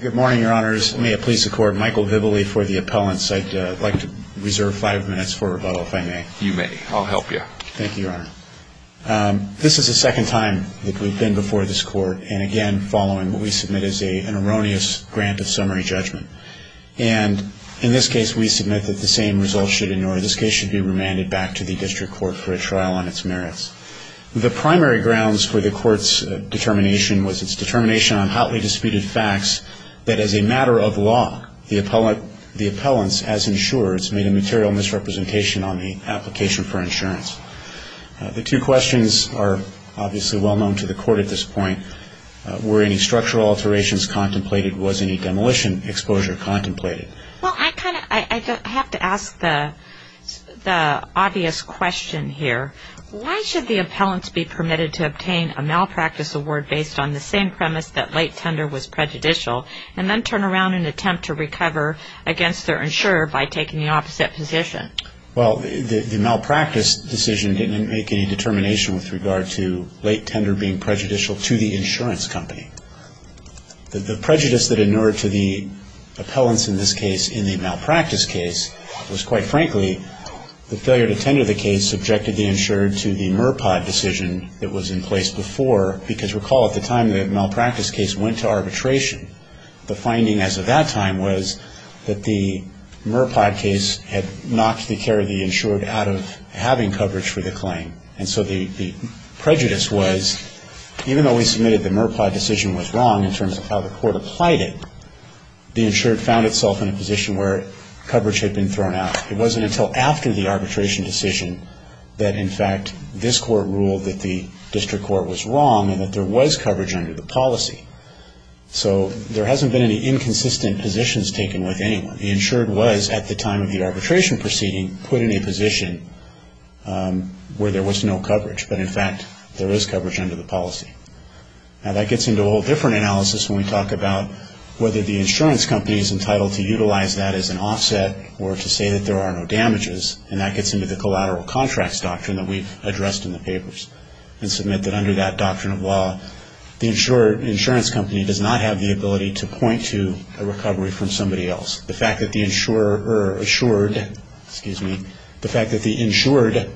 Good morning, your honors. May it please the court, Michael Vibile for the appellant's side. I'd like to reserve five minutes for rebuttal, if I may. You may. I'll help you. Thank you, your honor. This is the second time that we've been before this court, and again, following what we submit as an erroneous grant of summary judgment. And in this case, we submit that the same results should be remanded back to the district court for a trial on its merits. The primary grounds for the court's determination was its determination on hotly disputed facts that as a matter of law, the appellant's, as insureds, made a material misrepresentation on the application for insurance. The two questions are obviously well known to the court at this point. Were any structural alterations contemplated? Was any demolition exposure contemplated? Well, I kind of have to ask the obvious question here. Why should the appellant be permitted to obtain a malpractice award based on the same premise that late tender was prejudicial and then turn around and attempt to recover against their insurer by taking the opposite position? Well, the malpractice decision didn't make any determination with regard to late tender being prejudicial to the insurance company. The prejudice that inured to the appellants in this case in the malpractice case was, quite frankly, the failure to tender the case subjected the insured to the MRPOD decision that was in place before. Because recall, at the time the malpractice case went to arbitration, the finding as of that time was that the MRPOD case had knocked the care of the insured out of having coverage for the claim. And so the prejudice was, even though we submitted the MRPOD decision was wrong in terms of how the court applied it, the insured found itself in a position where coverage had been thrown out. It wasn't until after the arbitration decision that, in fact, this court ruled that the district court was wrong and that there was coverage under the policy. So there hasn't been any inconsistent positions taken with anyone. The insured was, at the time of the arbitration proceeding, put in a position where there was no coverage. But, in fact, there is coverage under the policy. Now, that gets into a whole different analysis when we talk about whether the insurance company is entitled to utilize that as an offset or to say that there are no damages. And that gets into the collateral contracts doctrine that we addressed in the papers and submit that under that doctrine of law the insurance company does not have the ability to point to a recovery from somebody else. The fact that the insured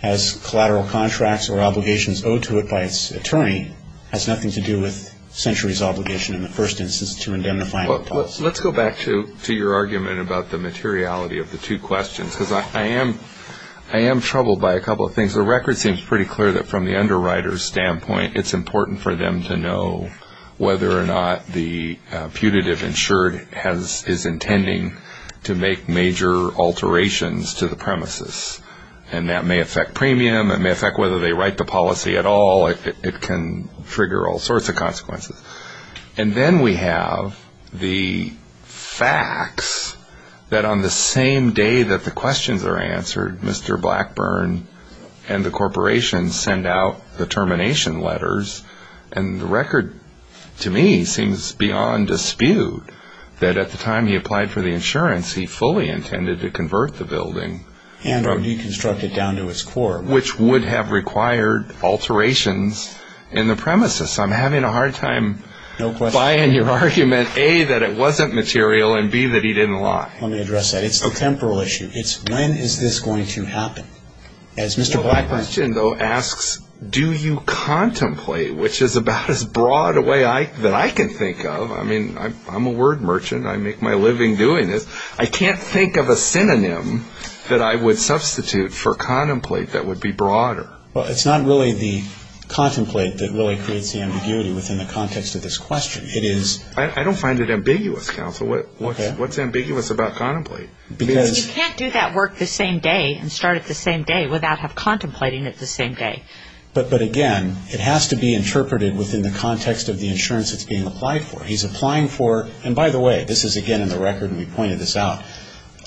has collateral contracts or obligations owed to it by its attorney has nothing to do with Century's obligation in the first instance to indemnify it. Let's go back to your argument about the materiality of the two questions. Because I am troubled by a couple of things. The record seems pretty clear that, from the underwriter's standpoint, it's important for them to know whether or not the putative insured is intending to make major alterations to the premises. And that may affect premium. It may affect whether they write the policy at all. It can trigger all sorts of consequences. And then we have the facts that, on the same day that the questions are answered, Mr. Blackburn and the corporation send out the termination letters. And the record, to me, seems beyond dispute that at the time he applied for the insurance, he fully intended to convert the building. And or deconstruct it down to its core. Which would have required alterations in the premises. I'm having a hard time buying your argument, A, that it wasn't material, and, B, that he didn't lie. Let me address that. It's a temporal issue. It's when is this going to happen. My question, though, asks, do you contemplate? Which is about as broad a way that I can think of. I mean, I'm a word merchant. I make my living doing this. I can't think of a synonym that I would substitute for contemplate that would be broader. Well, it's not really the contemplate that really creates the ambiguity within the context of this question. I don't find it ambiguous, counsel. What's ambiguous about contemplate? Because you can't do that work the same day and start it the same day without contemplating it the same day. But, again, it has to be interpreted within the context of the insurance it's being applied for. He's applying for, and by the way, this is, again, in the record, and we pointed this out.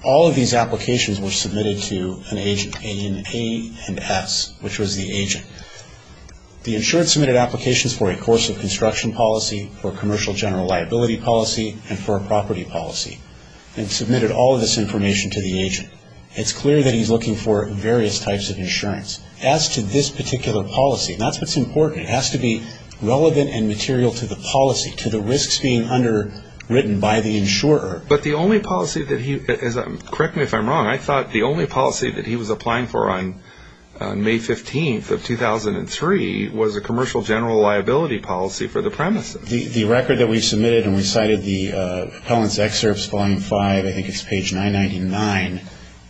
All of these applications were submitted to an agent, A and S, which was the agent. The insurance submitted applications for a course of construction policy, for a commercial general liability policy, and for a property policy. And submitted all of this information to the agent. It's clear that he's looking for various types of insurance. As to this particular policy, and that's what's important, it has to be relevant and material to the policy, to the risks being underwritten by the insurer. But the only policy that he, correct me if I'm wrong, I thought the only policy that he was applying for on May 15th of 2003 was a commercial general liability policy for the premises. The record that we submitted, and we cited the appellant's excerpts, volume 5, I think it's page 999,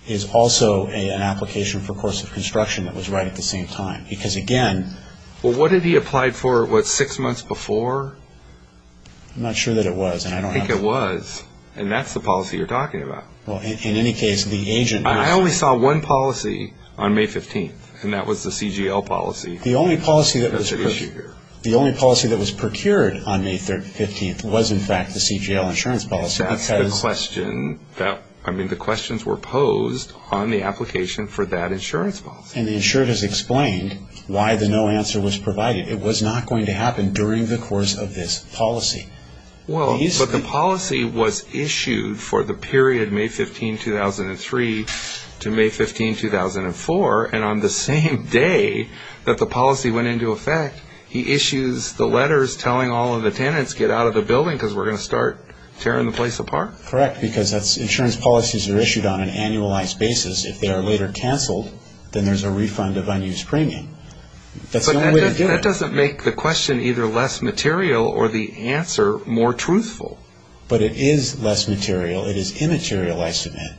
is also an application for a course of construction that was right at the same time. Because, again... Well, what did he apply for, what, six months before? I'm not sure that it was, and I don't have... I think it was, and that's the policy you're talking about. Well, in any case, the agent... I only saw one policy on May 15th, and that was the CGL policy. The only policy that was procured on May 15th was, in fact, the CGL insurance policy. That's the question that, I mean, the questions were posed on the application for that insurance policy. And the insurer has explained why the no answer was provided. It was not going to happen during the course of this policy. Well, but the policy was issued for the period May 15, 2003 to May 15, 2004, and on the same day that the policy went into effect, he issues the letters telling all of the tenants, get out of the building because we're going to start tearing the place apart. Correct, because insurance policies are issued on an annualized basis. If they are later canceled, then there's a refund of unused premium. But that doesn't make the question either less material or the answer more truthful. But it is less material. It is immaterialized in it.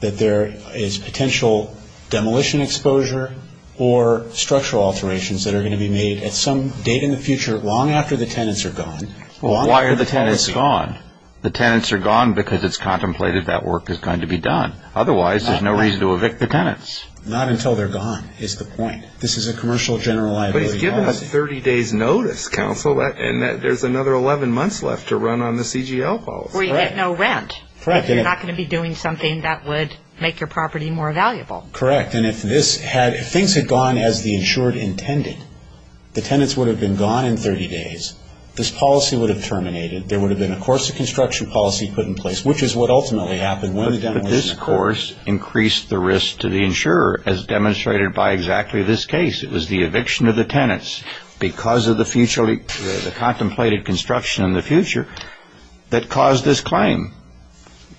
That there is potential demolition exposure or structural alterations that are going to be made at some date in the future long after the tenants are gone. Well, why are the tenants gone? The tenants are gone because it's contemplated that work is going to be done. Otherwise, there's no reason to evict the tenants. Not until they're gone is the point. This is a commercial general liability policy. But he's given us 30 days' notice, counsel, and there's another 11 months left to run on the CGL policy. That's where you get no rent. Correct. You're not going to be doing something that would make your property more valuable. Correct. And if things had gone as the insured intended, the tenants would have been gone in 30 days. This policy would have terminated. There would have been a course of construction policy put in place, which is what ultimately happened when the demolition occurred. But this course increased the risk to the insurer as demonstrated by exactly this case. It was the eviction of the tenants because of the contemplated construction in the future that caused this claim.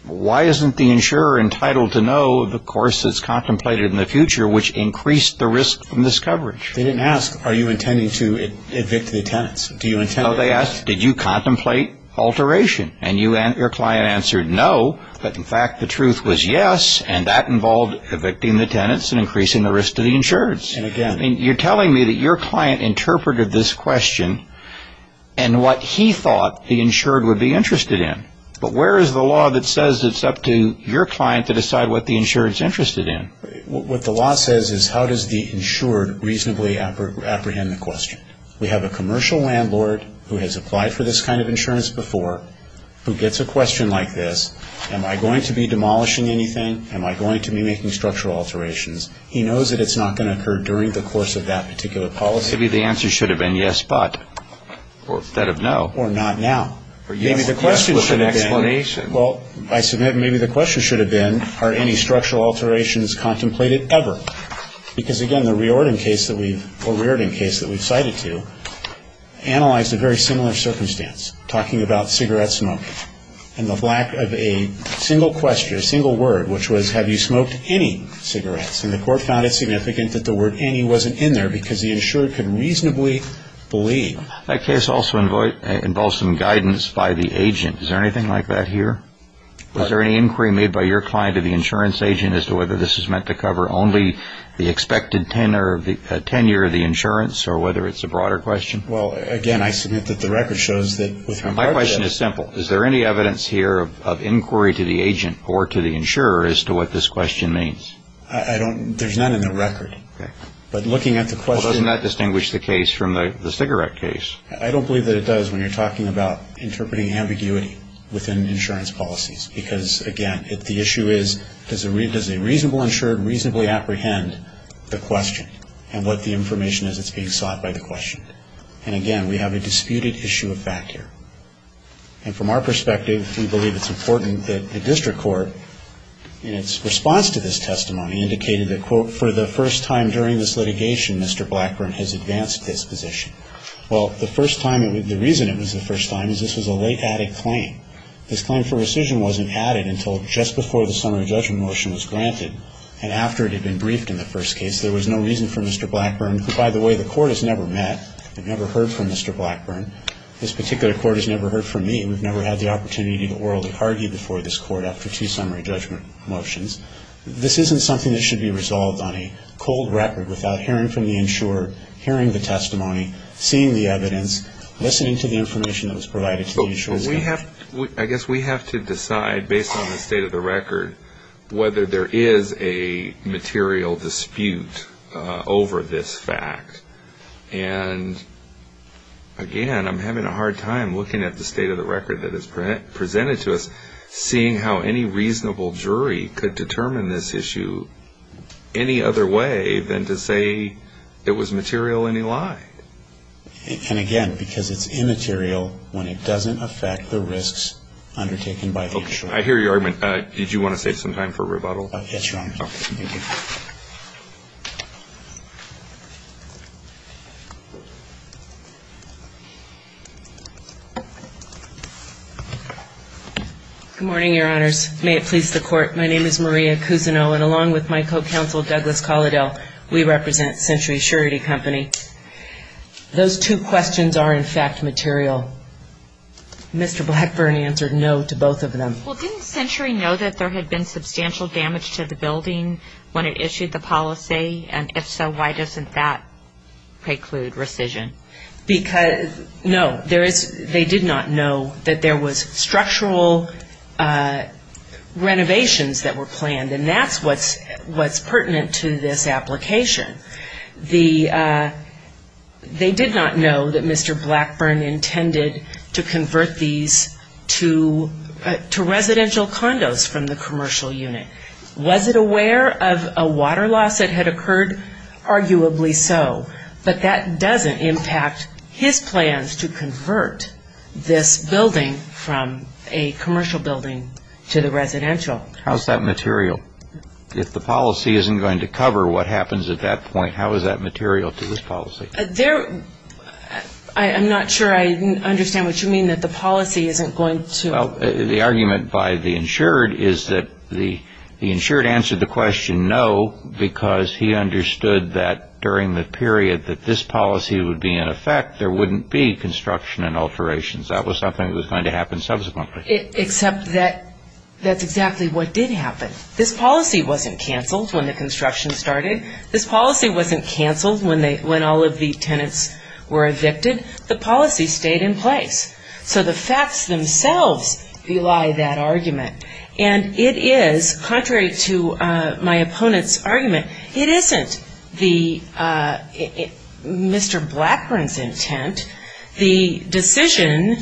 Why isn't the insurer entitled to know the course that's contemplated in the future, which increased the risk from this coverage? They didn't ask, are you intending to evict the tenants? Do you intend to? No, they asked, did you contemplate alteration? And your client answered no, but, in fact, the truth was yes, and that involved evicting the tenants and increasing the risk to the insurers. You're telling me that your client interpreted this question and what he thought the insured would be interested in. But where is the law that says it's up to your client to decide what the insured is interested in? What the law says is how does the insured reasonably apprehend the question. We have a commercial landlord who has applied for this kind of insurance before who gets a question like this, am I going to be demolishing anything? Am I going to be making structural alterations? He knows that it's not going to occur during the course of that particular policy. Maybe the answer should have been yes, but, instead of no. Or not now. Maybe the question should have been, well, I submit maybe the question should have been, are any structural alterations contemplated ever? Because, again, the Riordan case that we've cited to analyzed a very similar circumstance, talking about cigarette smoke, and the lack of a single question, a single word, which was have you smoked any cigarettes? And the court found it significant that the word any wasn't in there because the insured couldn't reasonably believe. That case also involved some guidance by the agent. Is there anything like that here? Was there any inquiry made by your client or the insurance agent as to whether this is meant to cover only the expected tenure of the insurance or whether it's a broader question? Well, again, I submit that the record shows that with regard to that. My question is simple. Is there any evidence here of inquiry to the agent or to the insurer as to what this question means? There's none in the record. But looking at the question. Well, doesn't that distinguish the case from the cigarette case? I don't believe that it does when you're talking about interpreting ambiguity within insurance policies. Because, again, the issue is does a reasonable insured reasonably apprehend the question and what the information is that's being sought by the question? And, again, we have a disputed issue of fact here. And from our perspective, we believe it's important that the district court in its response to this testimony indicated that, quote, for the first time during this litigation, Mr. Blackburn has advanced this position. Well, the first time, the reason it was the first time is this was a late added claim. This claim for rescission wasn't added until just before the summary judgment motion was granted and after it had been briefed in the first case. There was no reason for Mr. Blackburn, who, by the way, the court has never met and never heard from Mr. Blackburn. This particular court has never heard from me. We've never had the opportunity to orally argue before this court after two summary judgment motions. This isn't something that should be resolved on a cold record without hearing from the insurer, hearing the testimony, seeing the evidence, listening to the information that was provided to the insurer. I guess we have to decide, based on the state of the record, whether there is a material dispute over this fact. And, again, I'm having a hard time looking at the state of the record that is presented to us, seeing how any reasonable jury could determine this issue any other way than to say it was material and he lied. And, again, because it's immaterial when it doesn't affect the risks undertaken by the insurer. I hear your argument. Did you want to save some time for rebuttal? Yes, Your Honor. Thank you. Good morning, Your Honors. May it please the court, my name is Maria Cousineau, and along with my co-counsel, Douglas Colladel, we represent Century Surety Company. Those two questions are, in fact, material. Mr. Blackburn answered no to both of them. Well, didn't Century know that there had been substantial damage to the building when it issued the policy? And, if so, why doesn't that preclude rescission? No, they did not know that there was structural renovations that were planned, and that's what's pertinent to this application. They did not know that Mr. Blackburn intended to convert these to residential condos from the commercial unit. Was it aware of a water loss that had occurred? Arguably so. But that doesn't impact his plans to convert this building from a commercial building to the residential. How is that material? If the policy isn't going to cover what happens at that point, how is that material to his policy? I'm not sure I understand what you mean that the policy isn't going to. Well, the argument by the insured is that the insured answered the question no because he understood that during the period that this policy would be in effect, there wouldn't be construction and alterations. That was something that was going to happen subsequently. Except that that's exactly what did happen. This policy wasn't canceled when the construction started. This policy wasn't canceled when all of the tenants were evicted. The policy stayed in place. So the facts themselves belie that argument, and it is, contrary to my opponent's argument, it isn't Mr. Blackburn's intent. The decision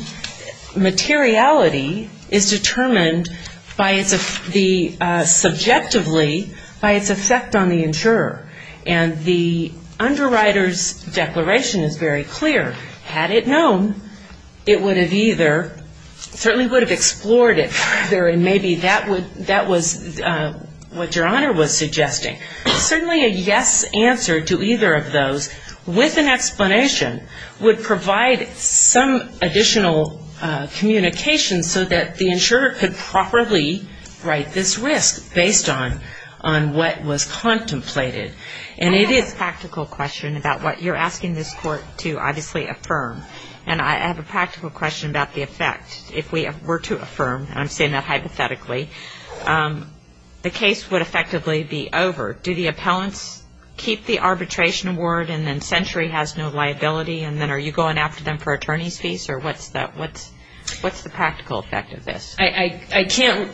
materiality is determined subjectively by its effect on the insurer. And the underwriter's declaration is very clear. Had it known, it would have either certainly would have explored it further, and maybe that was what Your Honor was suggesting. Certainly a yes answer to either of those with an explanation would provide some additional communication so that the insurer could properly write this risk based on what was contemplated. I have a practical question about what you're asking this Court to obviously affirm. And I have a practical question about the effect. If we were to affirm, and I'm saying that hypothetically, the case would effectively be over. Do the appellants keep the arbitration award, and then Century has no liability, and then are you going after them for attorney's fees? Or what's the practical effect of this? I can't.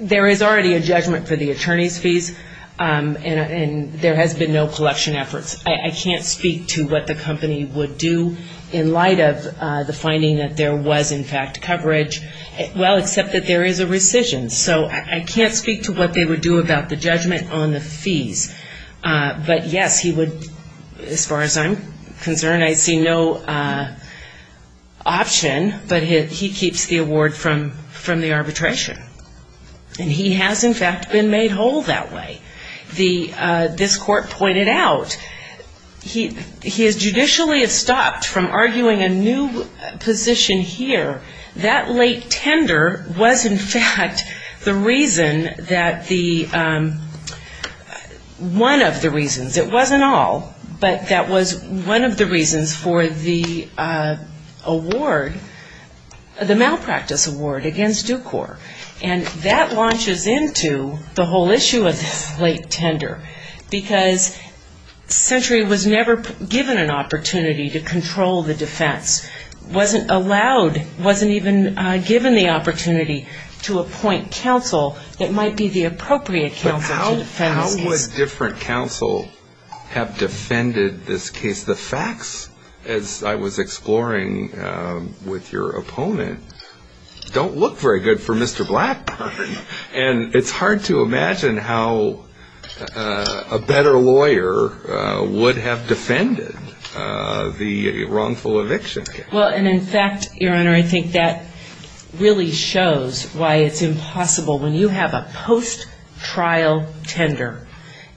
There is already a judgment for the attorney's fees, and there has been no collection efforts. I can't speak to what the company would do in light of the finding that there was, in fact, coverage. Well, except that there is a rescission. So I can't speak to what they would do about the judgment on the fees. But, yes, he would, as far as I'm concerned, I see no option, but he keeps the award from the arbitration. And he has, in fact, been made whole that way. This Court pointed out, he has judicially stopped from arguing a new position here. That late tender was, in fact, the reason that the one of the reasons, it wasn't all, but that was one of the reasons for the award, the malpractice award against Dukor. And that launches into the whole issue of this late tender, because Century was never given an opportunity to control the defense, wasn't allowed, wasn't even given the opportunity to appoint counsel that might be the appropriate counsel to defend this case. But how would different counsel have defended this case? Because the facts, as I was exploring with your opponent, don't look very good for Mr. Blackburn. And it's hard to imagine how a better lawyer would have defended the wrongful eviction case. Well, and, in fact, Your Honor, I think that really shows why it's impossible. When you have a post-trial tender,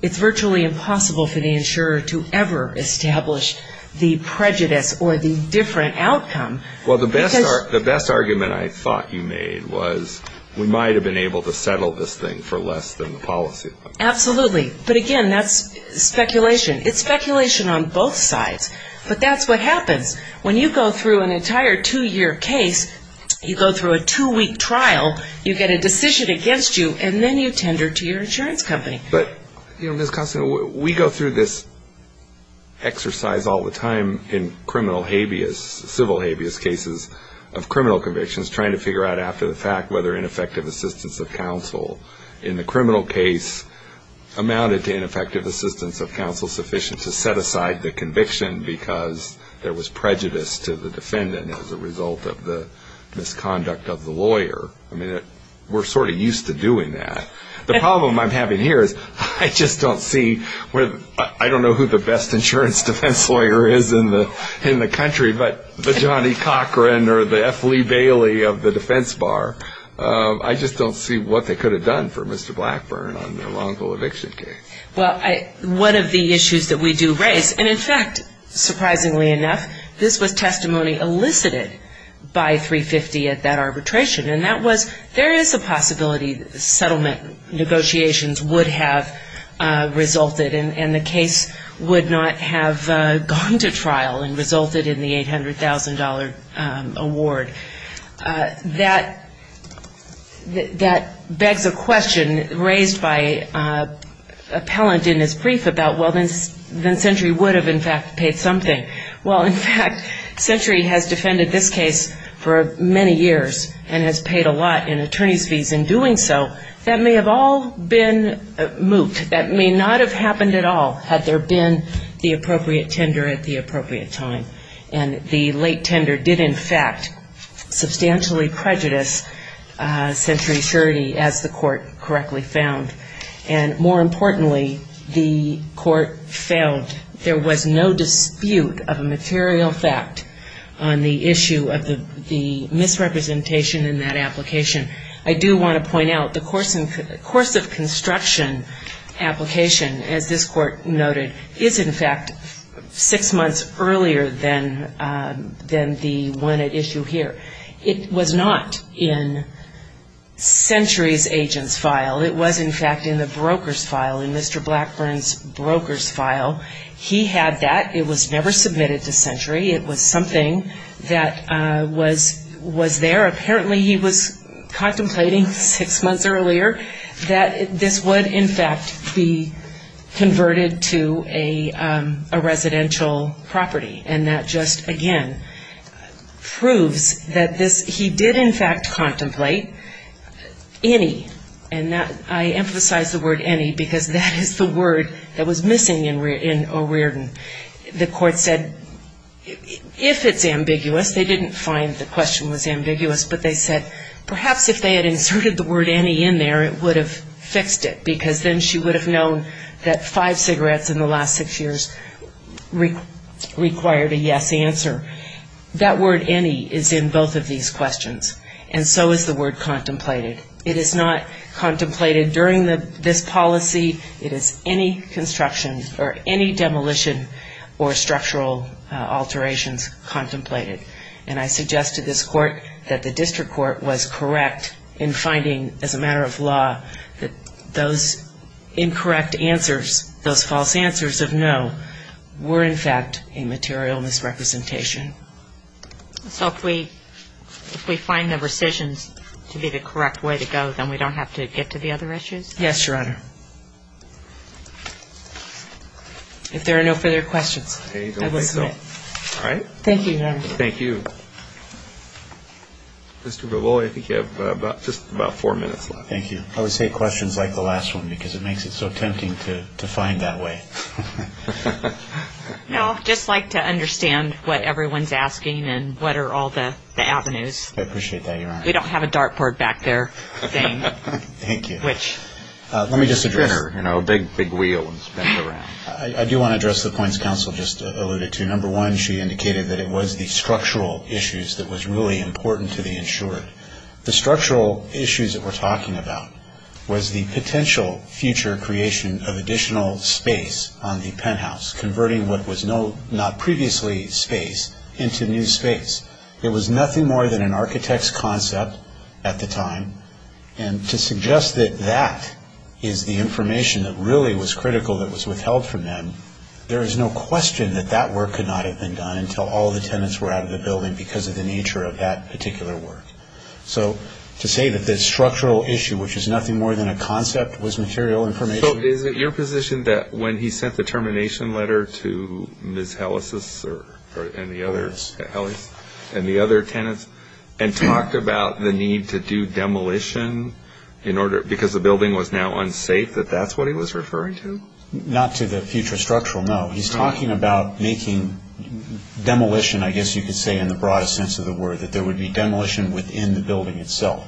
it's virtually impossible for the insurer to ever establish the prejudice or the different outcome. Well, the best argument I thought you made was we might have been able to settle this thing for less than the policy. Absolutely. But, again, that's speculation. It's speculation on both sides. But that's what happens when you go through an entire two-year case, you go through a two-week trial, you get a decision against you, and then you tender to your insurance company. But, you know, Ms. Costner, we go through this exercise all the time in criminal habeas, civil habeas cases of criminal convictions, trying to figure out after the fact whether ineffective assistance of counsel in the criminal case amounted to ineffective assistance of counsel sufficient to set aside the conviction because there was prejudice to the defendant as a result of the misconduct of the lawyer. I mean, we're sort of used to doing that. The problem I'm having here is I just don't see where, I don't know who the best insurance defense lawyer is in the country, but the Johnny Cochran or the F. Lee Bailey of the defense bar. I just don't see what they could have done for Mr. Blackburn on a lawful eviction case. Well, one of the issues that we do raise, and, in fact, surprisingly enough, this was testimony elicited by 350 at that arbitration, and that was there is a possibility settlement negotiations would have resulted and the case would not have gone to trial and resulted in the $800,000 award. That begs a question raised by an appellant in his brief about, well, then Century would have, in fact, paid something. Well, in fact, Century has defended this case for many years and has paid a lot in attorney's fees in doing so. That may have all been moot. That may not have happened at all had there been the appropriate tender at the appropriate time. And the late tender did, in fact, substantially prejudice Century's surety, as the court correctly found. And more importantly, the court felt there was no dispute of a material fact on the issue of the misrepresentation in that application. I do want to point out the course of construction application, as this court noted, is, in fact, six months earlier than the one at issue here. It was not in Century's agent's file. It was, in fact, in the broker's file, in Mr. Blackburn's broker's file. He had that. It was never submitted to Century. It was something that was there. Apparently, he was contemplating six months earlier that this would, in fact, be converted to a residential property, and that just, again, proves that he did, in fact, contemplate any, and I emphasize the word any because that is the word that was missing in O'Riordan. The court said if it's ambiguous, they didn't find the question was ambiguous, but they said perhaps if they had inserted the word any in there, it would have fixed it because then she would have known that five cigarettes in the last six years required a yes answer. That word any is in both of these questions, and so is the word contemplated. It is not contemplated during this policy. It is any construction or any demolition or structural alterations contemplated. And I suggest to this court that the district court was correct in finding, as a matter of law, that those incorrect answers, those false answers of no, were, in fact, a material misrepresentation. So if we find the rescissions to be the correct way to go, then we don't have to get to the other issues? Yes, Your Honor. If there are no further questions, I will submit. All right. Thank you, Your Honor. Thank you. Mr. Bavoli, I think you have just about four minutes left. Thank you. I always hate questions like the last one because it makes it so tempting to find that way. No, just like to understand what everyone's asking and what are all the avenues. I appreciate that, Your Honor. We don't have a dartboard back there thing. Thank you. Let me just address the points counsel just alluded to. Number one, she indicated that it was the structural issues that was really important to the insured. The structural issues that we're talking about was the potential future creation of additional space on the penthouse, converting what was not previously space into new space. It was nothing more than an architect's concept at the time. And to suggest that that is the information that really was critical that was withheld from them, there is no question that that work could not have been done until all the tenants were out of the building because of the nature of that particular work. So to say that the structural issue, which is nothing more than a concept, was material information. So is it your position that when he sent the termination letter to Ms. Hellis and the other tenants and talked about the need to do demolition because the building was now unsafe, that that's what he was referring to? Not to the future structural, no. He's talking about making demolition, I guess you could say in the broadest sense of the word, that there would be demolition within the building itself.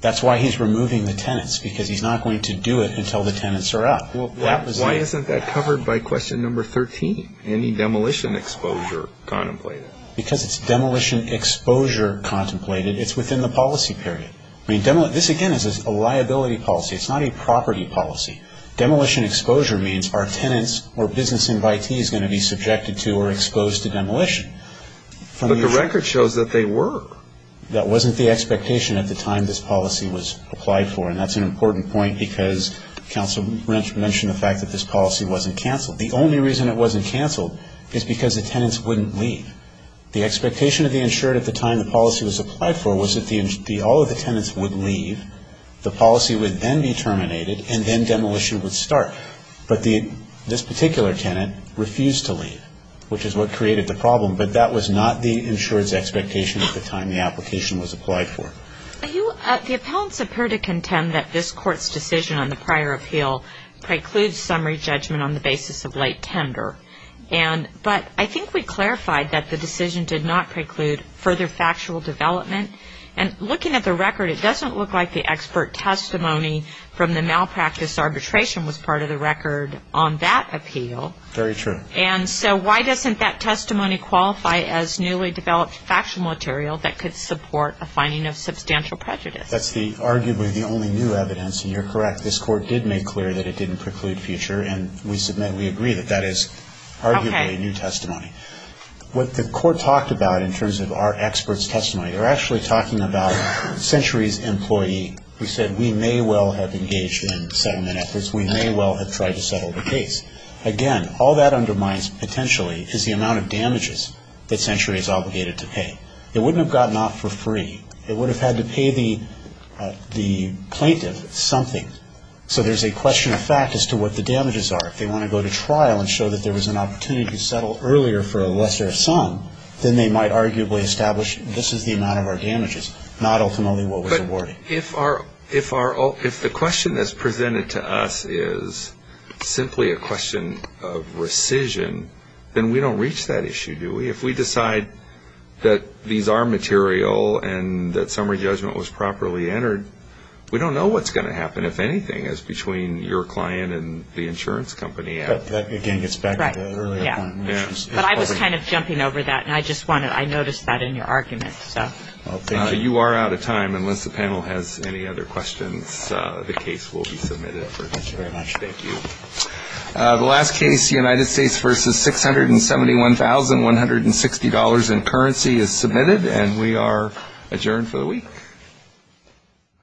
That's why he's removing the tenants because he's not going to do it until the tenants are out. Why isn't that covered by question number 13, any demolition exposure contemplated? Because it's demolition exposure contemplated. It's within the policy period. This, again, is a liability policy. It's not a property policy. Demolition exposure means our tenants or business invitees are going to be subjected to or exposed to demolition. But the record shows that they were. That wasn't the expectation at the time this policy was applied for, and that's an important point because counsel mentioned the fact that this policy wasn't canceled. The only reason it wasn't canceled is because the tenants wouldn't leave. The expectation of the insured at the time the policy was applied for was that all of the tenants would leave, the policy would then be terminated, and then demolition would start. But this particular tenant refused to leave, which is what created the problem. But that was not the insured's expectation at the time the application was applied for. The appellants appear to contend that this Court's decision on the prior appeal precludes summary judgment on the basis of late tender. But I think we clarified that the decision did not preclude further factual development. And looking at the record, it doesn't look like the expert testimony from the malpractice arbitration was part of the record on that appeal. Very true. And so why doesn't that testimony qualify as newly developed factual material that could support a finding of substantial prejudice? That's arguably the only new evidence, and you're correct. This Court did make clear that it didn't preclude future, and we submit we agree that that is arguably new testimony. Okay. What the Court talked about in terms of our expert's testimony, they're actually talking about Century's employee who said we may well have engaged in settlement efforts, we may well have tried to settle the case. Again, all that undermines potentially is the amount of damages that Century is obligated to pay. It wouldn't have gotten off for free. It would have had to pay the plaintiff something. So there's a question of fact as to what the damages are. If they want to go to trial and show that there was an opportunity to settle earlier for a lesser sum, then they might arguably establish this is the amount of our damages, not ultimately what was awarded. If the question that's presented to us is simply a question of rescission, then we don't reach that issue, do we? If we decide that these are material and that summary judgment was properly entered, we don't know what's going to happen, if anything, as between your client and the insurance company. That, again, gets back to the earlier point. But I was kind of jumping over that, and I noticed that in your argument. You are out of time. Unless the panel has any other questions, the case will be submitted. Thank you very much. Thank you. The last case, United States v. $671,160 in currency, is submitted, and we are adjourned for the week.